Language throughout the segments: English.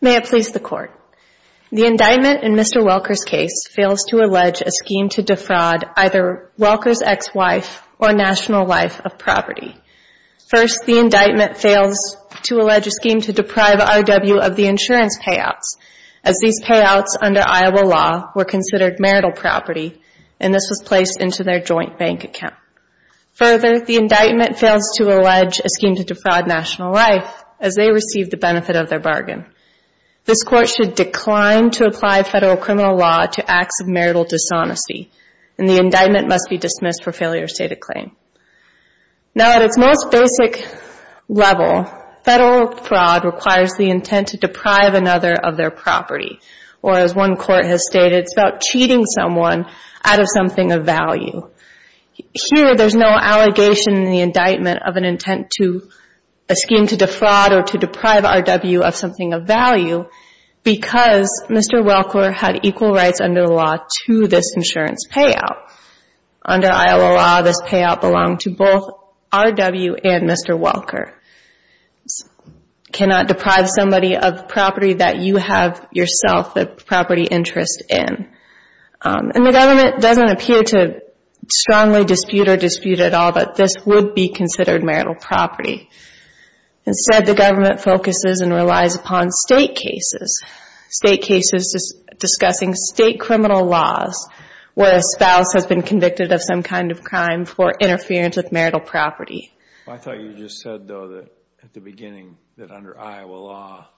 May it please the Court. The indictment in Mr. Welker's case fails to allege a scheme to defraud either Welker's ex-wife or national life of property. First, the indictment fails to allege a scheme to deprive R.W. of the insurance payouts, as these payouts under Iowa law were considered marital property, and this was placed into their joint bank account. Further, the indictment fails to allege a scheme to defraud national life, as they received the benefit of their bargain. This Court should decline to apply federal criminal law to acts of marital dishonesty, and the indictment must be dismissed for failure to state a claim. Now at its most basic level, federal fraud requires the intent to deprive another of their property, or as one court has stated, it's about cheating someone out of something of value. Here, there's no allegation in the indictment of an intent to, a scheme to defraud or to deprive R.W. of something of value, because Mr. Welker had equal rights under the law to this insurance payout. Under Iowa law, this payout belonged to both R.W. and Mr. Welker. You cannot deprive somebody of property that you have yourself a property interest in. And the government doesn't appear to strongly dispute or dispute at all that this would be considered marital property. Instead, the government focuses and relies upon state cases, state cases discussing state criminal laws, where a spouse has been convicted of some kind of crime for interference with marital property. I thought you just said, though, that at the beginning, that under Iowa law,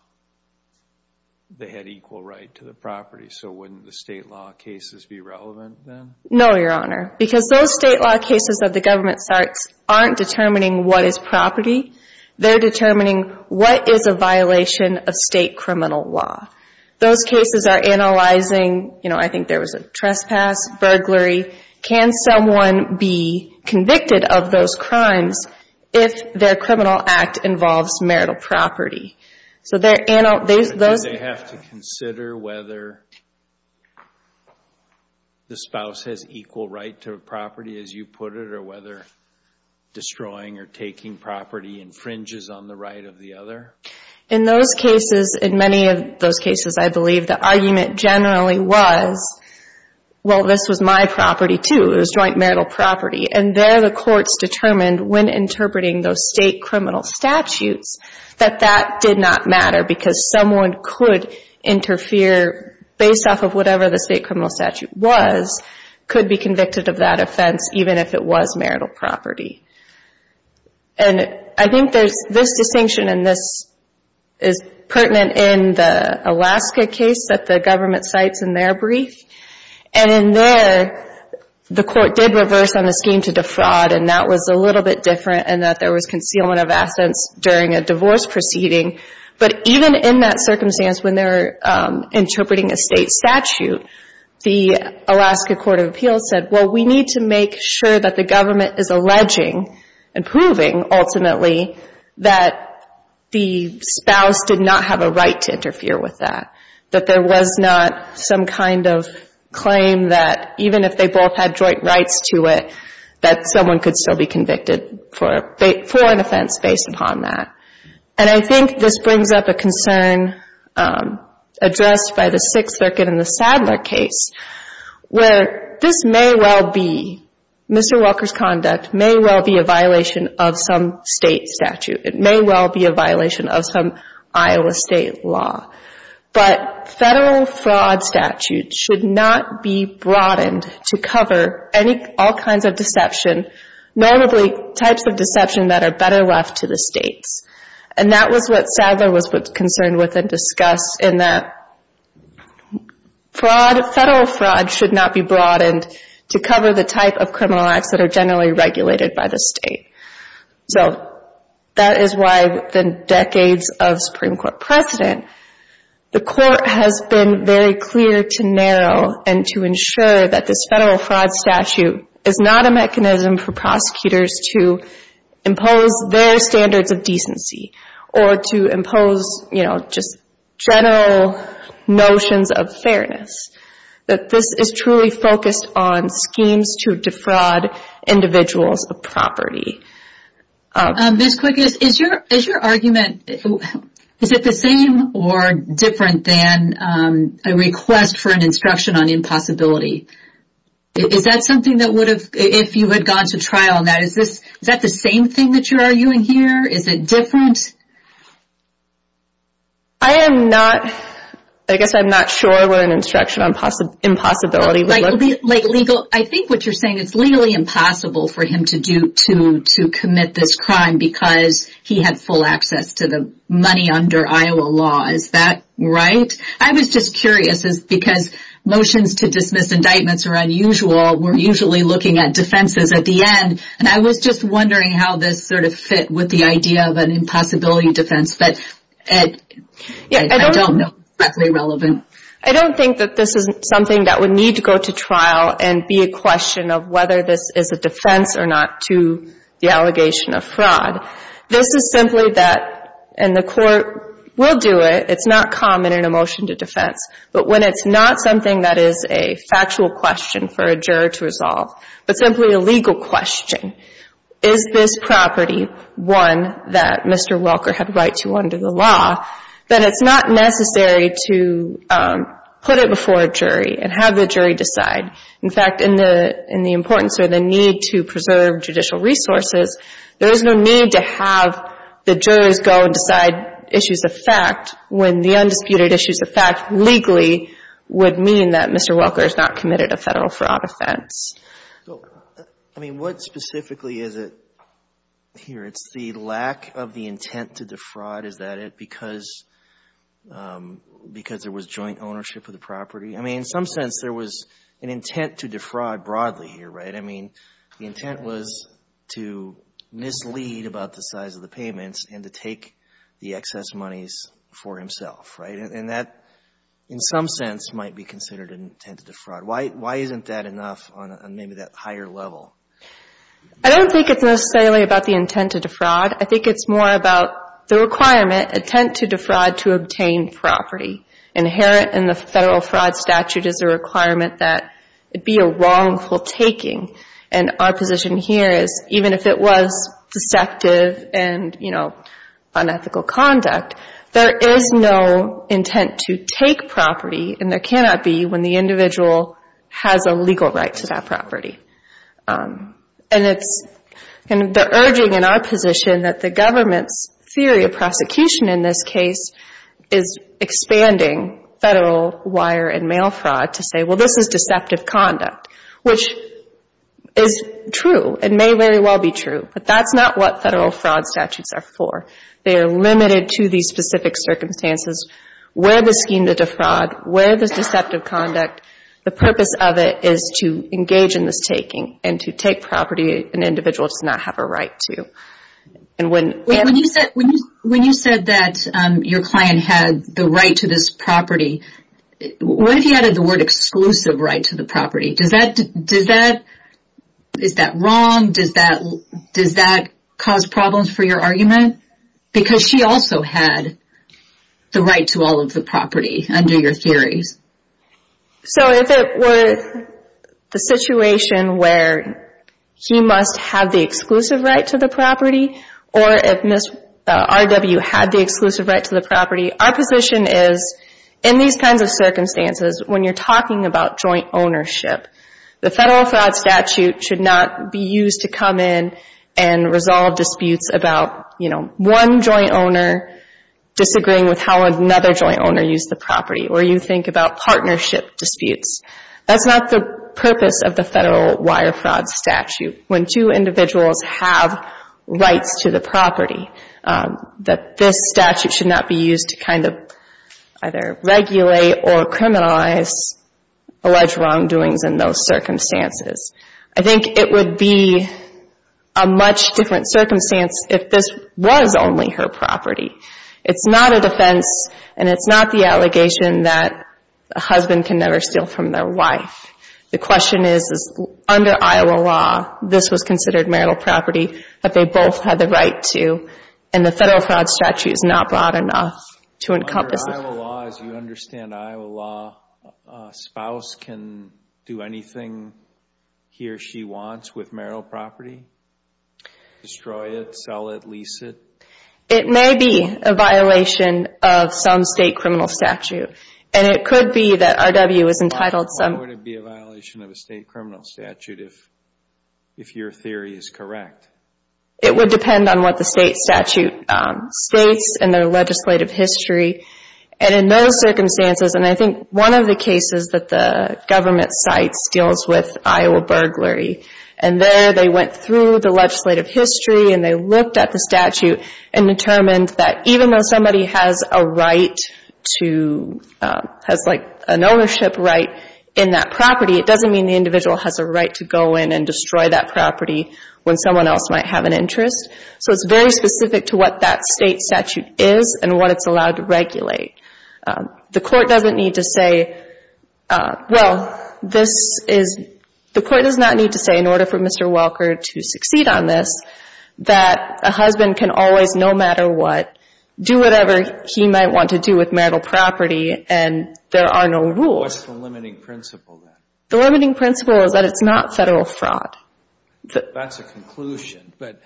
they had equal right to the property. So wouldn't the state law cases be relevant then? No, Your Honor, because those state law cases that the government starts aren't determining what is property. They're determining what is a violation of state criminal law. Those cases are analyzing, you know, I think there was a trespass, burglary. Can someone be convicted of those crimes if their criminal act involves marital property? So they're analyzing... Do they have to consider whether the spouse has equal right to a property, as you put it, or whether destroying or taking property infringes on the right of the other? In those cases, in many of those cases, I believe, the argument generally was, well, this was my property, too. It was joint marital property. And there the courts determined, when interpreting those state criminal statutes, that that did not matter because someone could interfere, based off of whatever the state criminal statute was, could be convicted of that offense, even if it was marital property. And I think there's this distinction, and this is pertinent in the Alaska case that the government cites in their brief. And in there, the court did reverse on the scheme to defraud, and that was a little bit different, in that there was concealment of assets during a divorce proceeding. But even in that circumstance, when they're interpreting a state statute, the Alaska Court of Appeals said, well, we need to make sure that the government is alleging and proving, ultimately, that the spouse did not have a right to interfere with that, that there was not some kind of claim that, even if they both had joint rights to it, that someone could still be convicted for an offense based upon that. And I think this brings up a concern addressed by the Sixth Circuit in the Sadler case, where this may well be, Mr. Walker's conduct may well be a violation of some state statute. It may well be a violation of some Iowa state law. But federal fraud statutes should not be broadened to cover all kinds of deception, normally types of deception that are better left to the states. And that was what Sadler was concerned with and discussed, in that federal fraud should not be broadened to cover the type of criminal acts that are generally regulated by the state. So that is why, within decades of Supreme Court precedent, the court has been very clear to narrow and to ensure that this federal fraud statute is not a mechanism for prosecutors to impose their standards of decency or to impose, you know, just general notions of fairness. That this is truly focused on schemes to defraud individuals of property. Ms. Quick, is your argument, is it the same or different than a request for an instruction on impossibility? Is that something that would have, if you had gone to trial on that, is that the same thing that you're arguing here? Is it different? I am not, I guess I'm not sure what an instruction on impossibility would look like. I think what you're saying, it's legally impossible for him to commit this crime because he had full access to the money under Iowa law, is that right? I was just curious, because motions to dismiss indictments are unusual, we're usually looking at defenses at the end, and I was just wondering how this sort of fit with the idea of an impossibility defense, but I don't know if that's relevant. I don't think that this is something that would need to go to trial and be a question of whether this is a defense or not to the allegation of fraud. This is simply that, and the court will do it, it's not common in a motion to defense, but when it's not something that is a factual question for a juror to resolve, but simply a legal question, is this property one that Mr. Welker had right to under the law, then it's not necessary to put it before a jury and have the jury decide. In fact, in the importance of the need to preserve judicial resources, there is no need to have the jurors go and decide issues of fact when the undisputed issues of fact legally would mean that Mr. Welker has not committed a Federal fraud offense. I mean, what specifically is it here? It's the lack of the intent to defraud. Is that it? Because there was joint ownership of the property? I mean, in some sense, there was an intent to defraud broadly here, right? I mean, the intent was to mislead about the size of the payments and to take the excess monies for himself, right? And that, in some sense, might be considered an intent to defraud. Why isn't that enough on maybe that higher level? I don't think it's necessarily about the intent to defraud. I think it's more about the requirement, intent to defraud to obtain property. Inherent in the Federal fraud statute is a requirement that it be a wrongful taking. And our position here is even if it was deceptive and, you know, unethical conduct, there is no intent to take property, and there cannot be when the individual has a legal right to that property. And it's the urging in our position that the government's theory of prosecution in this case is expanding Federal wire and mail fraud to say, well, this is deceptive conduct, which is true. It may very well be true, but that's not what Federal fraud statutes are for. They are limited to these specific circumstances where the scheme to defraud, where the deceptive conduct, the purpose of it is to engage in this taking and to take property an individual does not have a right to. When you said that your client had the right to this property, what if you added the word exclusive right to the property? Is that wrong? Does that cause problems for your argument? Because she also had the right to all of the property under your theories. So if it were the situation where he must have the exclusive right to the property or if Ms. RW had the exclusive right to the property, our position is in these kinds of circumstances when you're talking about joint ownership, the Federal fraud statute should not be used to come in and resolve disputes about, you know, one joint owner disagreeing with how another joint owner used the property or you think about partnership disputes. That's not the purpose of the Federal wire fraud statute. When two individuals have rights to the property, that this statute should not be used to kind of either regulate or criminalize alleged wrongdoings in those circumstances. I think it would be a much different circumstance if this was only her property. It's not a defense and it's not the allegation that a husband can never steal from their wife. The question is, under Iowa law, this was considered marital property that they both had the right to, and the Federal fraud statute is not broad enough to encompass this. Under Iowa law, as you understand Iowa law, a spouse can do anything he or she wants with marital property? Destroy it, sell it, lease it? It may be a violation of some state criminal statute, and it could be that RW is entitled to some. Why would it be a violation of a state criminal statute if your theory is correct? It would depend on what the state statute states in their legislative history, and in those circumstances, and I think one of the cases that the government cites deals with Iowa burglary, and there they went through the legislative history and they looked at the statute and determined that even though somebody has a right to, has like an ownership right in that property, it doesn't mean the individual has a right to go in and destroy that property when someone else might have an interest. So it's very specific to what that state statute is and what it's allowed to regulate. The court doesn't need to say, well, this is, the court does not need to say in order for Mr. Welker to succeed on this that a husband can always, no matter what, do whatever he might want to do with marital property and there are no rules. What's the limiting principle then? The limiting principle is that it's not federal fraud. That's a conclusion, but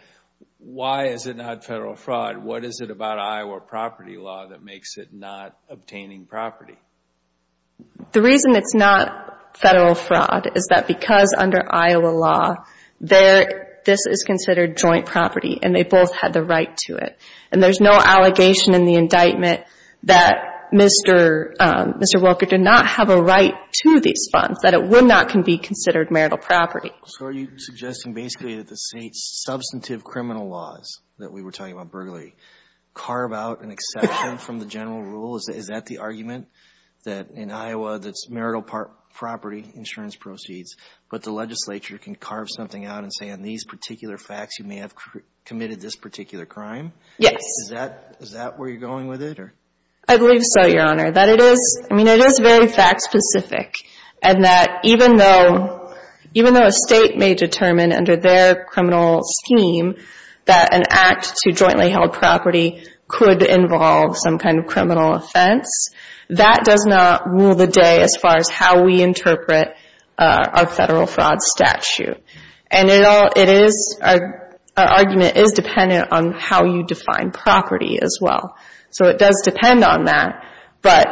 why is it not federal fraud? What is it about Iowa property law that makes it not obtaining property? The reason it's not federal fraud is that because under Iowa law, this is considered joint property and they both had the right to it, and there's no allegation in the indictment that Mr. Welker did not have a right to these funds, that it would not can be considered marital property. So are you suggesting basically that the state's substantive criminal laws that we were talking about earlier carve out an exception from the general rule? Is that the argument, that in Iowa that's marital property insurance proceeds, but the legislature can carve something out and say on these particular facts you may have committed this particular crime? Yes. Is that where you're going with it? I believe so, Your Honor. That it is, I mean, it is very fact specific, and that even though a state may determine under their criminal scheme that an act to jointly held property could involve some kind of criminal offense, that does not rule the day as far as how we interpret our federal fraud statute. And it is, our argument is dependent on how you define property as well. So it does depend on that, but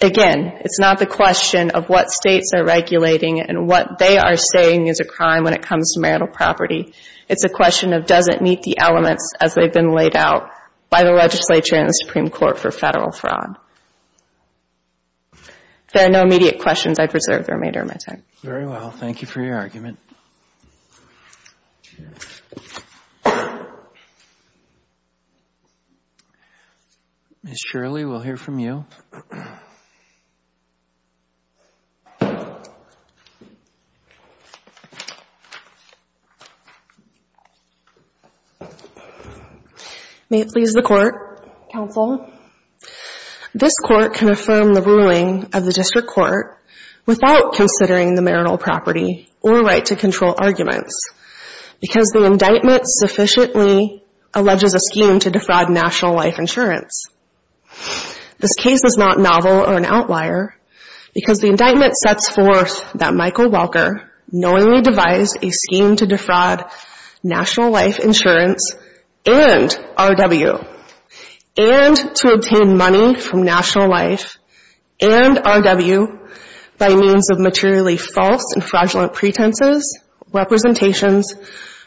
again it's not the question of what states are regulating and what they are saying is a crime when it comes to marital property. It's a question of does it meet the elements as they've been laid out by the legislature and the Supreme Court for federal fraud. If there are no immediate questions, I preserve the remainder of my time. Very well. Thank you for your argument. Ms. Shirley, we'll hear from you. May it please the Court, Counsel. This Court can affirm the ruling of the District Court without considering the marital property or right to control arguments because the indictment sufficiently alleges a scheme to defraud National Life Insurance. This case is not novel or an outlier because the indictment sets forth that Michael Welker knowingly devised a scheme to defraud National Life Insurance and RW and to obtain money from National Life and RW by means of materially false and fraudulent pretenses, representations,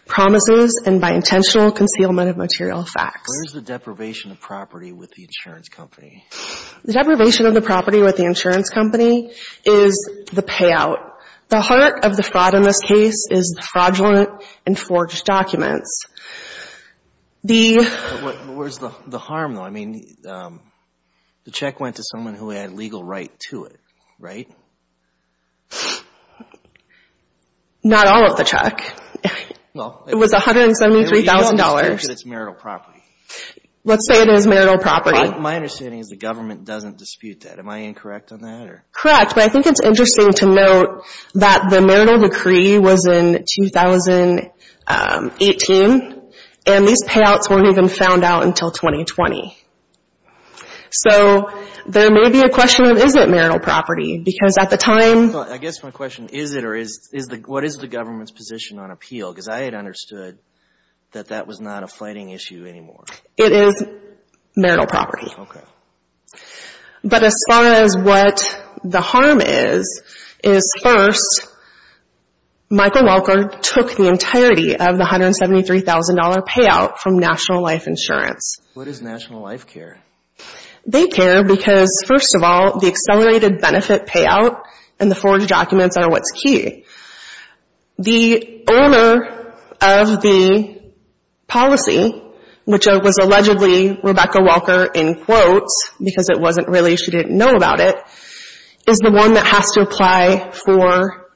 promises, and by intentional concealment of material facts. Where's the deprivation of property with the insurance company? The deprivation of the property with the insurance company is the payout. The heart of the fraud in this case is the fraudulent and forged documents. Where's the harm, though? I mean, the check went to someone who had legal right to it, right? Not all of the check. It was $173,000. It's marital property. Let's say it is marital property. My understanding is the government doesn't dispute that. Am I incorrect on that? Correct, but I think it's interesting to note that the marital decree was in 2018, and these payouts weren't even found out until 2020. So there may be a question of, is it marital property? Because at the time— I guess my question is, what is the government's position on appeal? Because I had understood that that was not a fighting issue anymore. It is marital property. Okay. But as far as what the harm is, is first, Michael Welker took the entirety of the $173,000 payout from National Life Insurance. What does National Life care? They care because, first of all, the accelerated benefit payout and the forged documents are what's key. The owner of the policy, which was allegedly Rebecca Welker in quotes because it wasn't really—she didn't know about it, is the one that has to apply for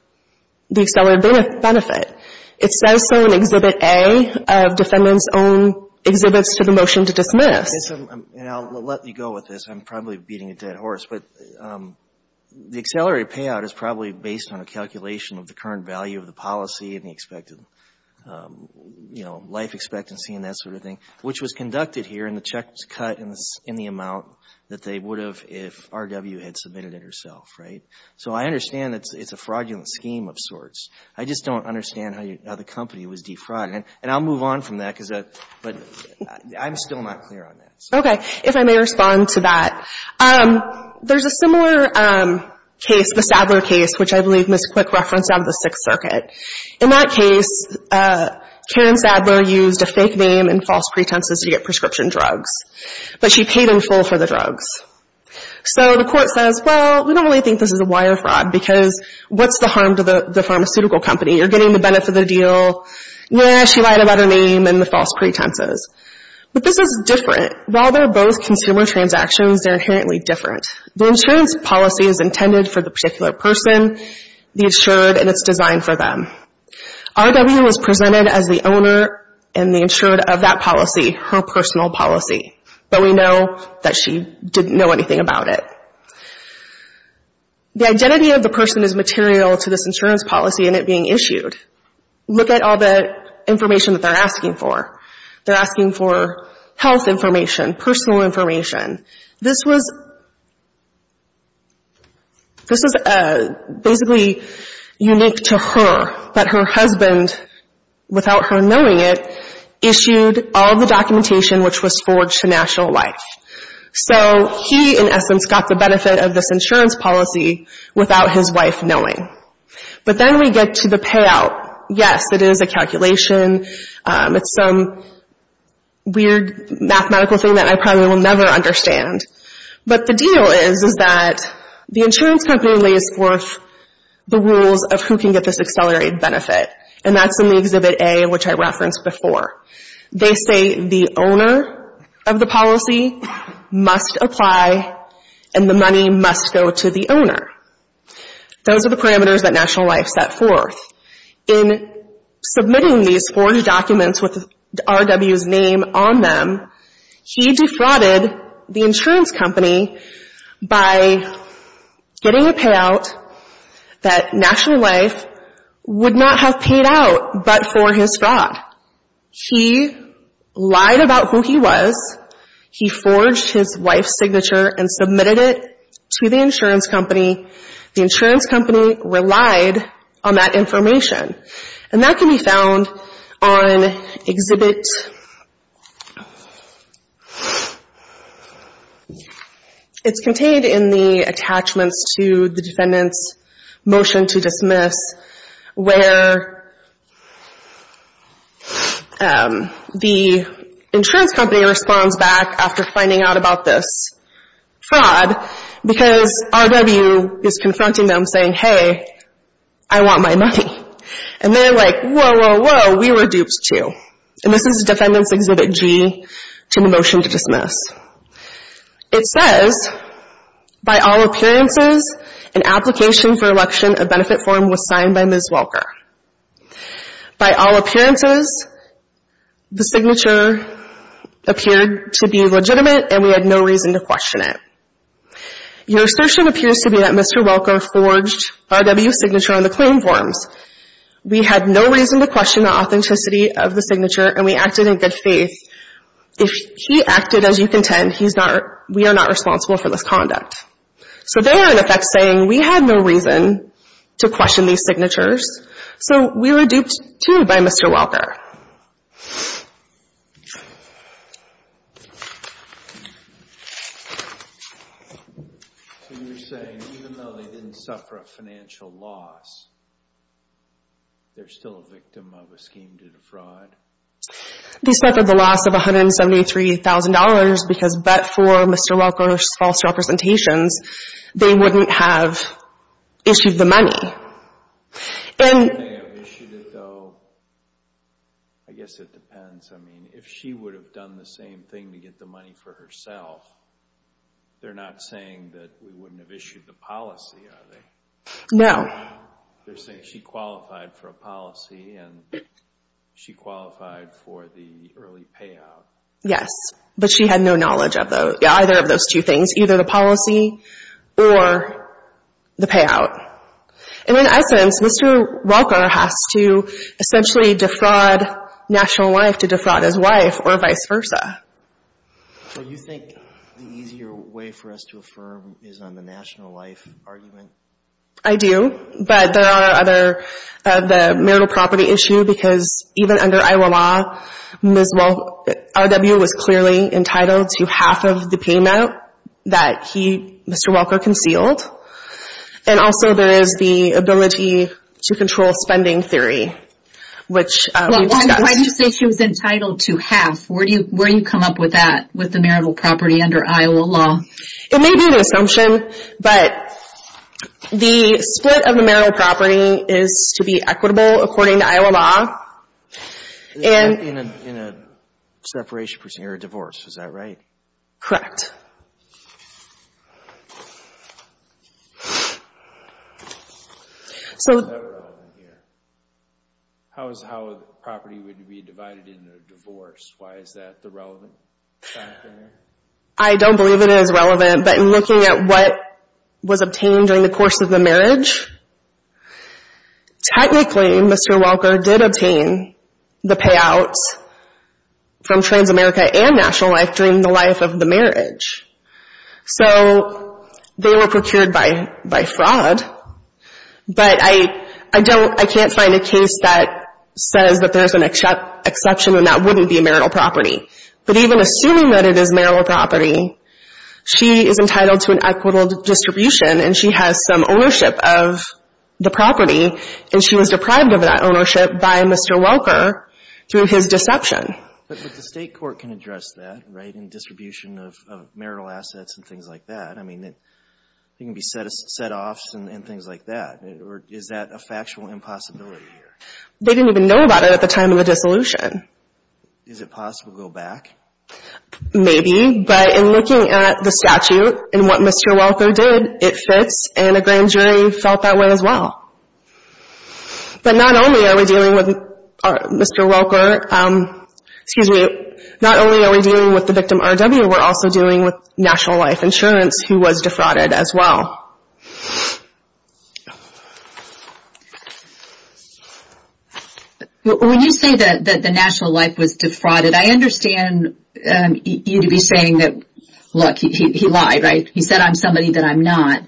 the accelerated benefit. It says so in Exhibit A of Defendant's Own Exhibits to the Motion to Dismiss. And I'll let you go with this. I'm probably beating a dead horse. But the accelerated payout is probably based on a calculation of the current value of the policy and the expected, you know, life expectancy and that sort of thing, which was conducted here and the check was cut in the amount that they would have if RW had submitted it herself, right? So I understand that it's a fraudulent scheme of sorts. I just don't understand how the company was defrauded. And I'll move on from that because—but I'm still not clear on that. Okay. If I may respond to that, there's a similar case, the Sadler case, which I believe Ms. Quick referenced out of the Sixth Circuit. In that case, Karen Sadler used a fake name and false pretenses to get prescription drugs, but she paid in full for the drugs. So the court says, well, we don't really think this is a wire fraud because what's the harm to the pharmaceutical company? You're getting the benefit of the deal. Yeah, she lied about her name and the false pretenses. But this is different. While they're both consumer transactions, they're inherently different. The insurance policy is intended for the particular person, the insured, and it's designed for them. RW was presented as the owner and the insured of that policy, her personal policy, but we know that she didn't know anything about it. The identity of the person is material to this insurance policy and it being issued. Look at all the information that they're asking for. They're asking for health information, personal information. This was basically unique to her, but her husband, without her knowing it, issued all the documentation which was forged to national life. So he, in essence, got the benefit of this insurance policy without his wife knowing. But then we get to the payout. Yes, it is a calculation. It's some weird mathematical thing that I probably will never understand. But the deal is that the insurance company lays forth the rules of who can get this accelerated benefit, and that's in the Exhibit A, which I referenced before. They say the owner of the policy must apply and the money must go to the owner. Those are the parameters that National Life set forth. In submitting these forged documents with RW's name on them, he defrauded the insurance company by getting a payout that National Life would not have paid out but for his fraud. He lied about who he was. He forged his wife's signature and submitted it to the insurance company. The insurance company relied on that information, and that can be found on Exhibit... It's contained in the attachments to the defendant's motion to dismiss where the insurance company responds back after finding out about this fraud because RW is confronting them saying, hey, I want my money. And they're like, whoa, whoa, whoa, we were duped too. And this is Defendant's Exhibit G to the motion to dismiss. It says, by all appearances, an application for election of benefit form was signed by Ms. Welker. By all appearances, the signature appeared to be legitimate, and we had no reason to question it. Your assertion appears to be that Mr. Welker forged RW's signature on the claim forms. We had no reason to question the authenticity of the signature, and we acted in good faith. If he acted as you contend, we are not responsible for this conduct. So they are, in effect, saying we had no reason to question these signatures, so we were duped too by Mr. Welker. So you're saying even though they didn't suffer a financial loss, they're still a victim of a scheme to defraud? They suffered the loss of $173,000 because but for Mr. Welker's false representations, they wouldn't have issued the money. They may have issued it, though. I guess it depends. I mean, if she would have done the same thing to get the money for herself, they're not saying that we wouldn't have issued the policy, are they? No. They're saying she qualified for a policy and she qualified for the early payout. Yes, but she had no knowledge of either of those two things, either the policy or the payout. And in essence, Mr. Welker has to essentially defraud National Life to defraud his wife or vice versa. So you think the easier way for us to affirm is on the National Life argument? I do, but there are other, the marital property issue, because even under Iowa law, Ms. Welker, RW was clearly entitled to half of the payout that he, Mr. Welker, concealed. And also there is the ability to control spending theory, which we discussed. Why do you say she was entitled to half? Where do you come up with that, with the marital property under Iowa law? It may be an assumption, but the split of the marital property is to be equitable according to Iowa law. In a separation procedure or divorce, is that right? Correct. How is that relevant here? How is how the property would be divided into a divorce? Why is that the relevant factor here? I don't believe it is relevant, but in looking at what was obtained during the course of the marriage, technically Mr. Welker did obtain the payouts from Transamerica and National Life during the life of the marriage. So they were procured by fraud, but I don't, I can't find a case that says that there is an exception and that wouldn't be a marital property. But even assuming that it is marital property, she is entitled to an equitable distribution, and she has some ownership of the property, and she was deprived of that ownership by Mr. Welker through his deception. But the state court can address that, right, in distribution of marital assets and things like that. I mean, there can be set-offs and things like that. Is that a factual impossibility here? They didn't even know about it at the time of the dissolution. Is it possible to go back? Maybe, but in looking at the statute and what Mr. Welker did, it fits, and a grand jury felt that way as well. But not only are we dealing with Mr. Welker, excuse me, not only are we dealing with the victim RW, we're also dealing with National Life Insurance, who was defrauded as well. When you say that the National Life was defrauded, I understand you to be saying that, look, he lied, right? He said I'm somebody that I'm not.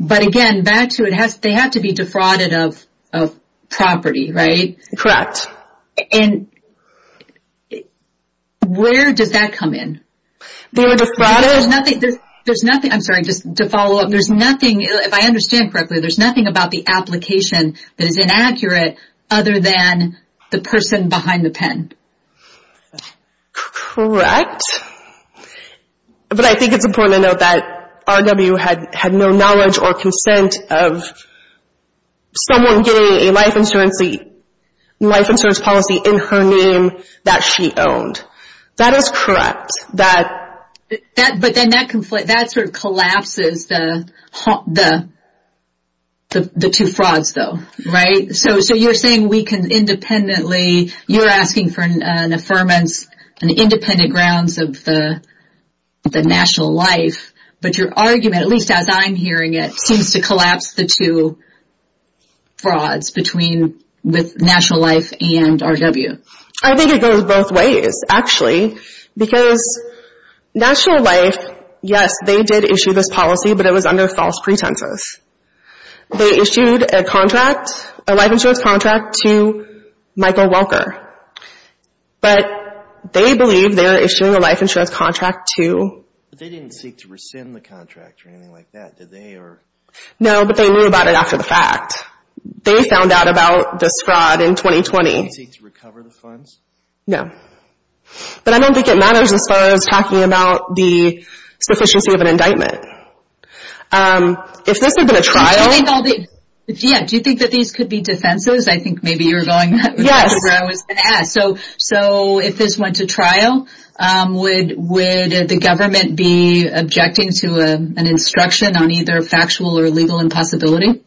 But, again, back to it, they have to be defrauded of property, right? Correct. And where does that come in? They were defrauded. There's nothing, I'm sorry, just to follow up, there's nothing, if I understand correctly, there's nothing about the application that is inaccurate other than the person behind the pen. Correct. But I think it's important to note that RW had no knowledge or consent of someone getting a life insurance policy in her name that she owned. That is correct. But then that sort of collapses the two frauds, though, right? So you're saying we can independently, you're asking for an affirmance, an independent grounds of the National Life, but your argument, at least as I'm hearing it, seems to collapse the two frauds between National Life and RW. I think it goes both ways, actually, because National Life, yes, they did issue this policy, but it was under false pretenses. They issued a life insurance contract to Michael Welker. But they believe they were issuing a life insurance contract to… They didn't seek to rescind the contract or anything like that, did they? No, but they knew about it after the fact. They found out about this fraud in 2020. Did they seek to recover the funds? No. But I don't think it matters as far as talking about the sufficiency of an indictment. If this had been a trial… Do you think that these could be defenses? I think maybe you're going that way. So if this went to trial, would the government be objecting to an instruction on either factual or legal impossibility?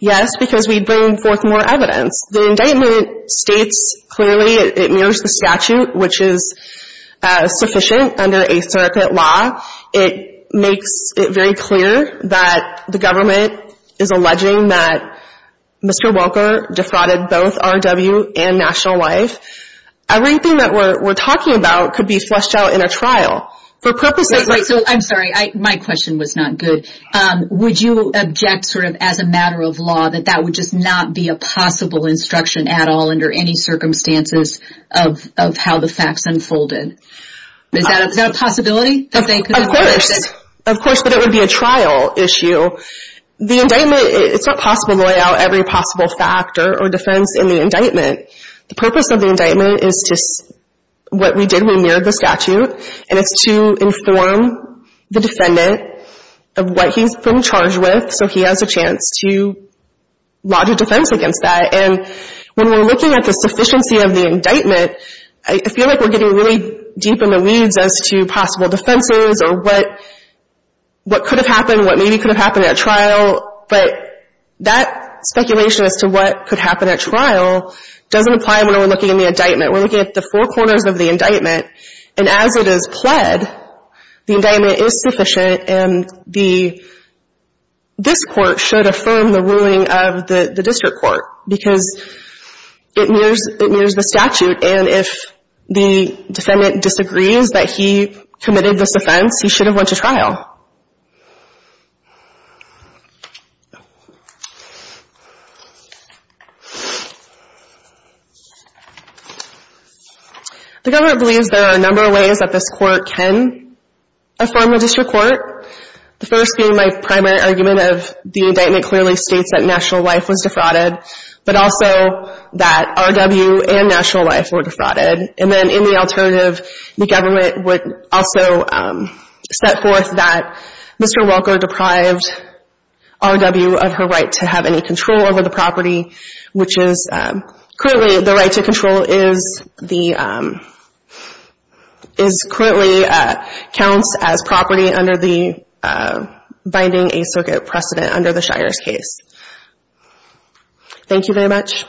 Yes, because we'd bring forth more evidence. The indictment states clearly it mirrors the statute, which is sufficient under a circuit law. It makes it very clear that the government is alleging that Mr. Welker defrauded both R&W and National Life. Everything that we're talking about could be flushed out in a trial. I'm sorry, my question was not good. Would you object as a matter of law that that would just not be a possible instruction at all under any circumstances of how the facts unfolded? Is that a possibility? Of course, but it would be a trial issue. The indictment, it's not possible to lay out every possible factor or defense in the indictment. The purpose of the indictment is what we did when we mirrored the statute, and it's to inform the defendant of what he's been charged with so he has a chance to lodge a defense against that. When we're looking at the sufficiency of the indictment, I feel like we're getting really deep in the weeds as to possible defenses or what could have happened, what maybe could have happened at trial, but that speculation as to what could happen at trial doesn't apply when we're looking at the indictment. We're looking at the four corners of the indictment, and as it is pled, the indictment is sufficient, and this Court should affirm the ruling of the district court because it mirrors the statute, and if the defendant disagrees that he committed this offense, he should have went to trial. The government believes there are a number of ways that this Court can affirm the district court, the first being my primary argument of the indictment clearly states that national life was defrauded, but also that R.W. and national life were defrauded, and then in the alternative, the government would also set forth that Mr. Welker deprived R.W. of her right to have any control over the property, which is currently the right to control is currently counts as property under the binding a circuit precedent under the Shires case. Thank you very much.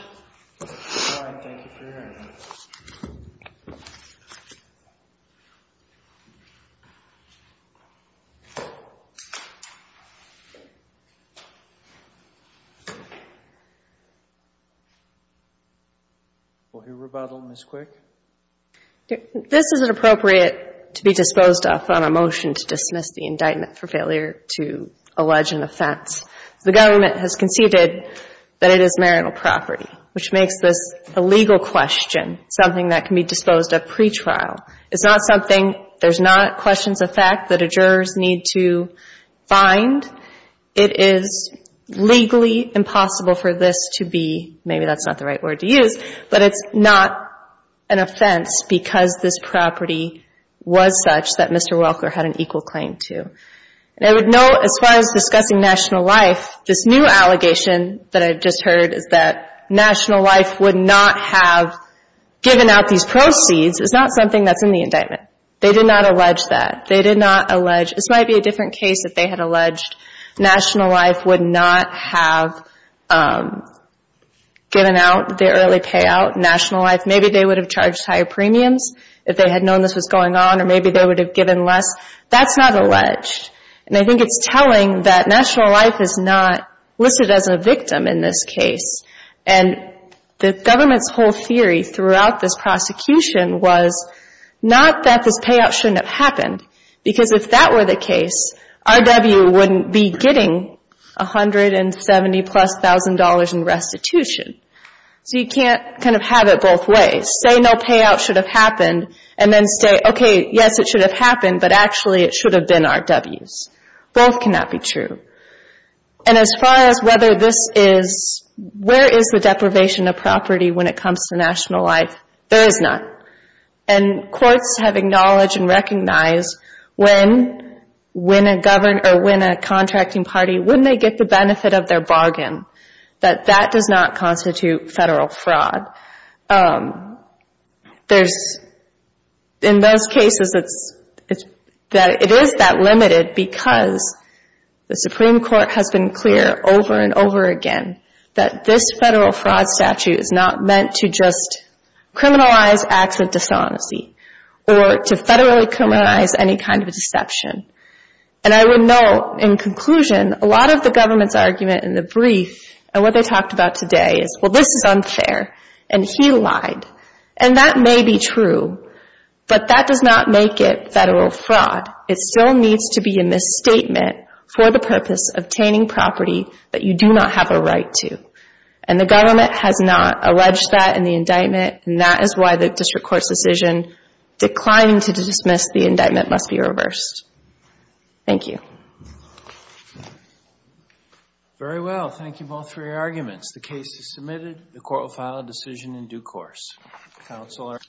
This is inappropriate to be disposed of on a motion to dismiss the indictment for failure to allege an offense. The government has conceded that it is marital property, which makes this a legal question, something that can be disposed of pretrial. It's not something, there's not questions of fact that a jurors need to find. It is legally impossible for this to be, maybe that's not the right word to use, but it's not an offense because this property was such that Mr. Welker had an equal claim to. And I would note, as far as discussing national life, this new allegation that I've just heard is that national life would not have given out these proceeds. It's not something that's in the indictment. They did not allege that. They did not allege, this might be a different case if they had alleged national life would not have given out the early payout. National life, maybe they would have charged higher premiums if they had known this was going on, or maybe they would have given less. That's not alleged. And I think it's telling that national life is not listed as a victim in this case. And the government's whole theory throughout this prosecution was not that this payout shouldn't have happened because if that were the case, RW wouldn't be getting $170,000-plus in restitution. So you can't kind of have it both ways. Say no payout should have happened and then say, okay, yes, it should have happened, but actually it should have been RW's. Both cannot be true. And as far as whether this is, where is the deprivation of property when it comes to national life, there is not. And courts have acknowledged and recognized when a government or when a contracting party, when they get the benefit of their bargain, that that does not constitute federal fraud. There's, in those cases, it is that limited because the Supreme Court has been clear over and over again that this federal fraud statute is not meant to just criminalize acts of dishonesty or to federally criminalize any kind of deception. And I would note, in conclusion, a lot of the government's argument in the brief, and what they talked about today is, well, this is unfair, and he lied. And that may be true, but that does not make it federal fraud. It still needs to be a misstatement for the purpose of obtaining property that you do not have a right to. And the government has not alleged that in the indictment, and that is why the district court's decision declining to dismiss the indictment must be reversed. Thank you. Very well. Thank you, both, for your arguments. The case is submitted. The court will file a decision in due course. Counsel are adjourned.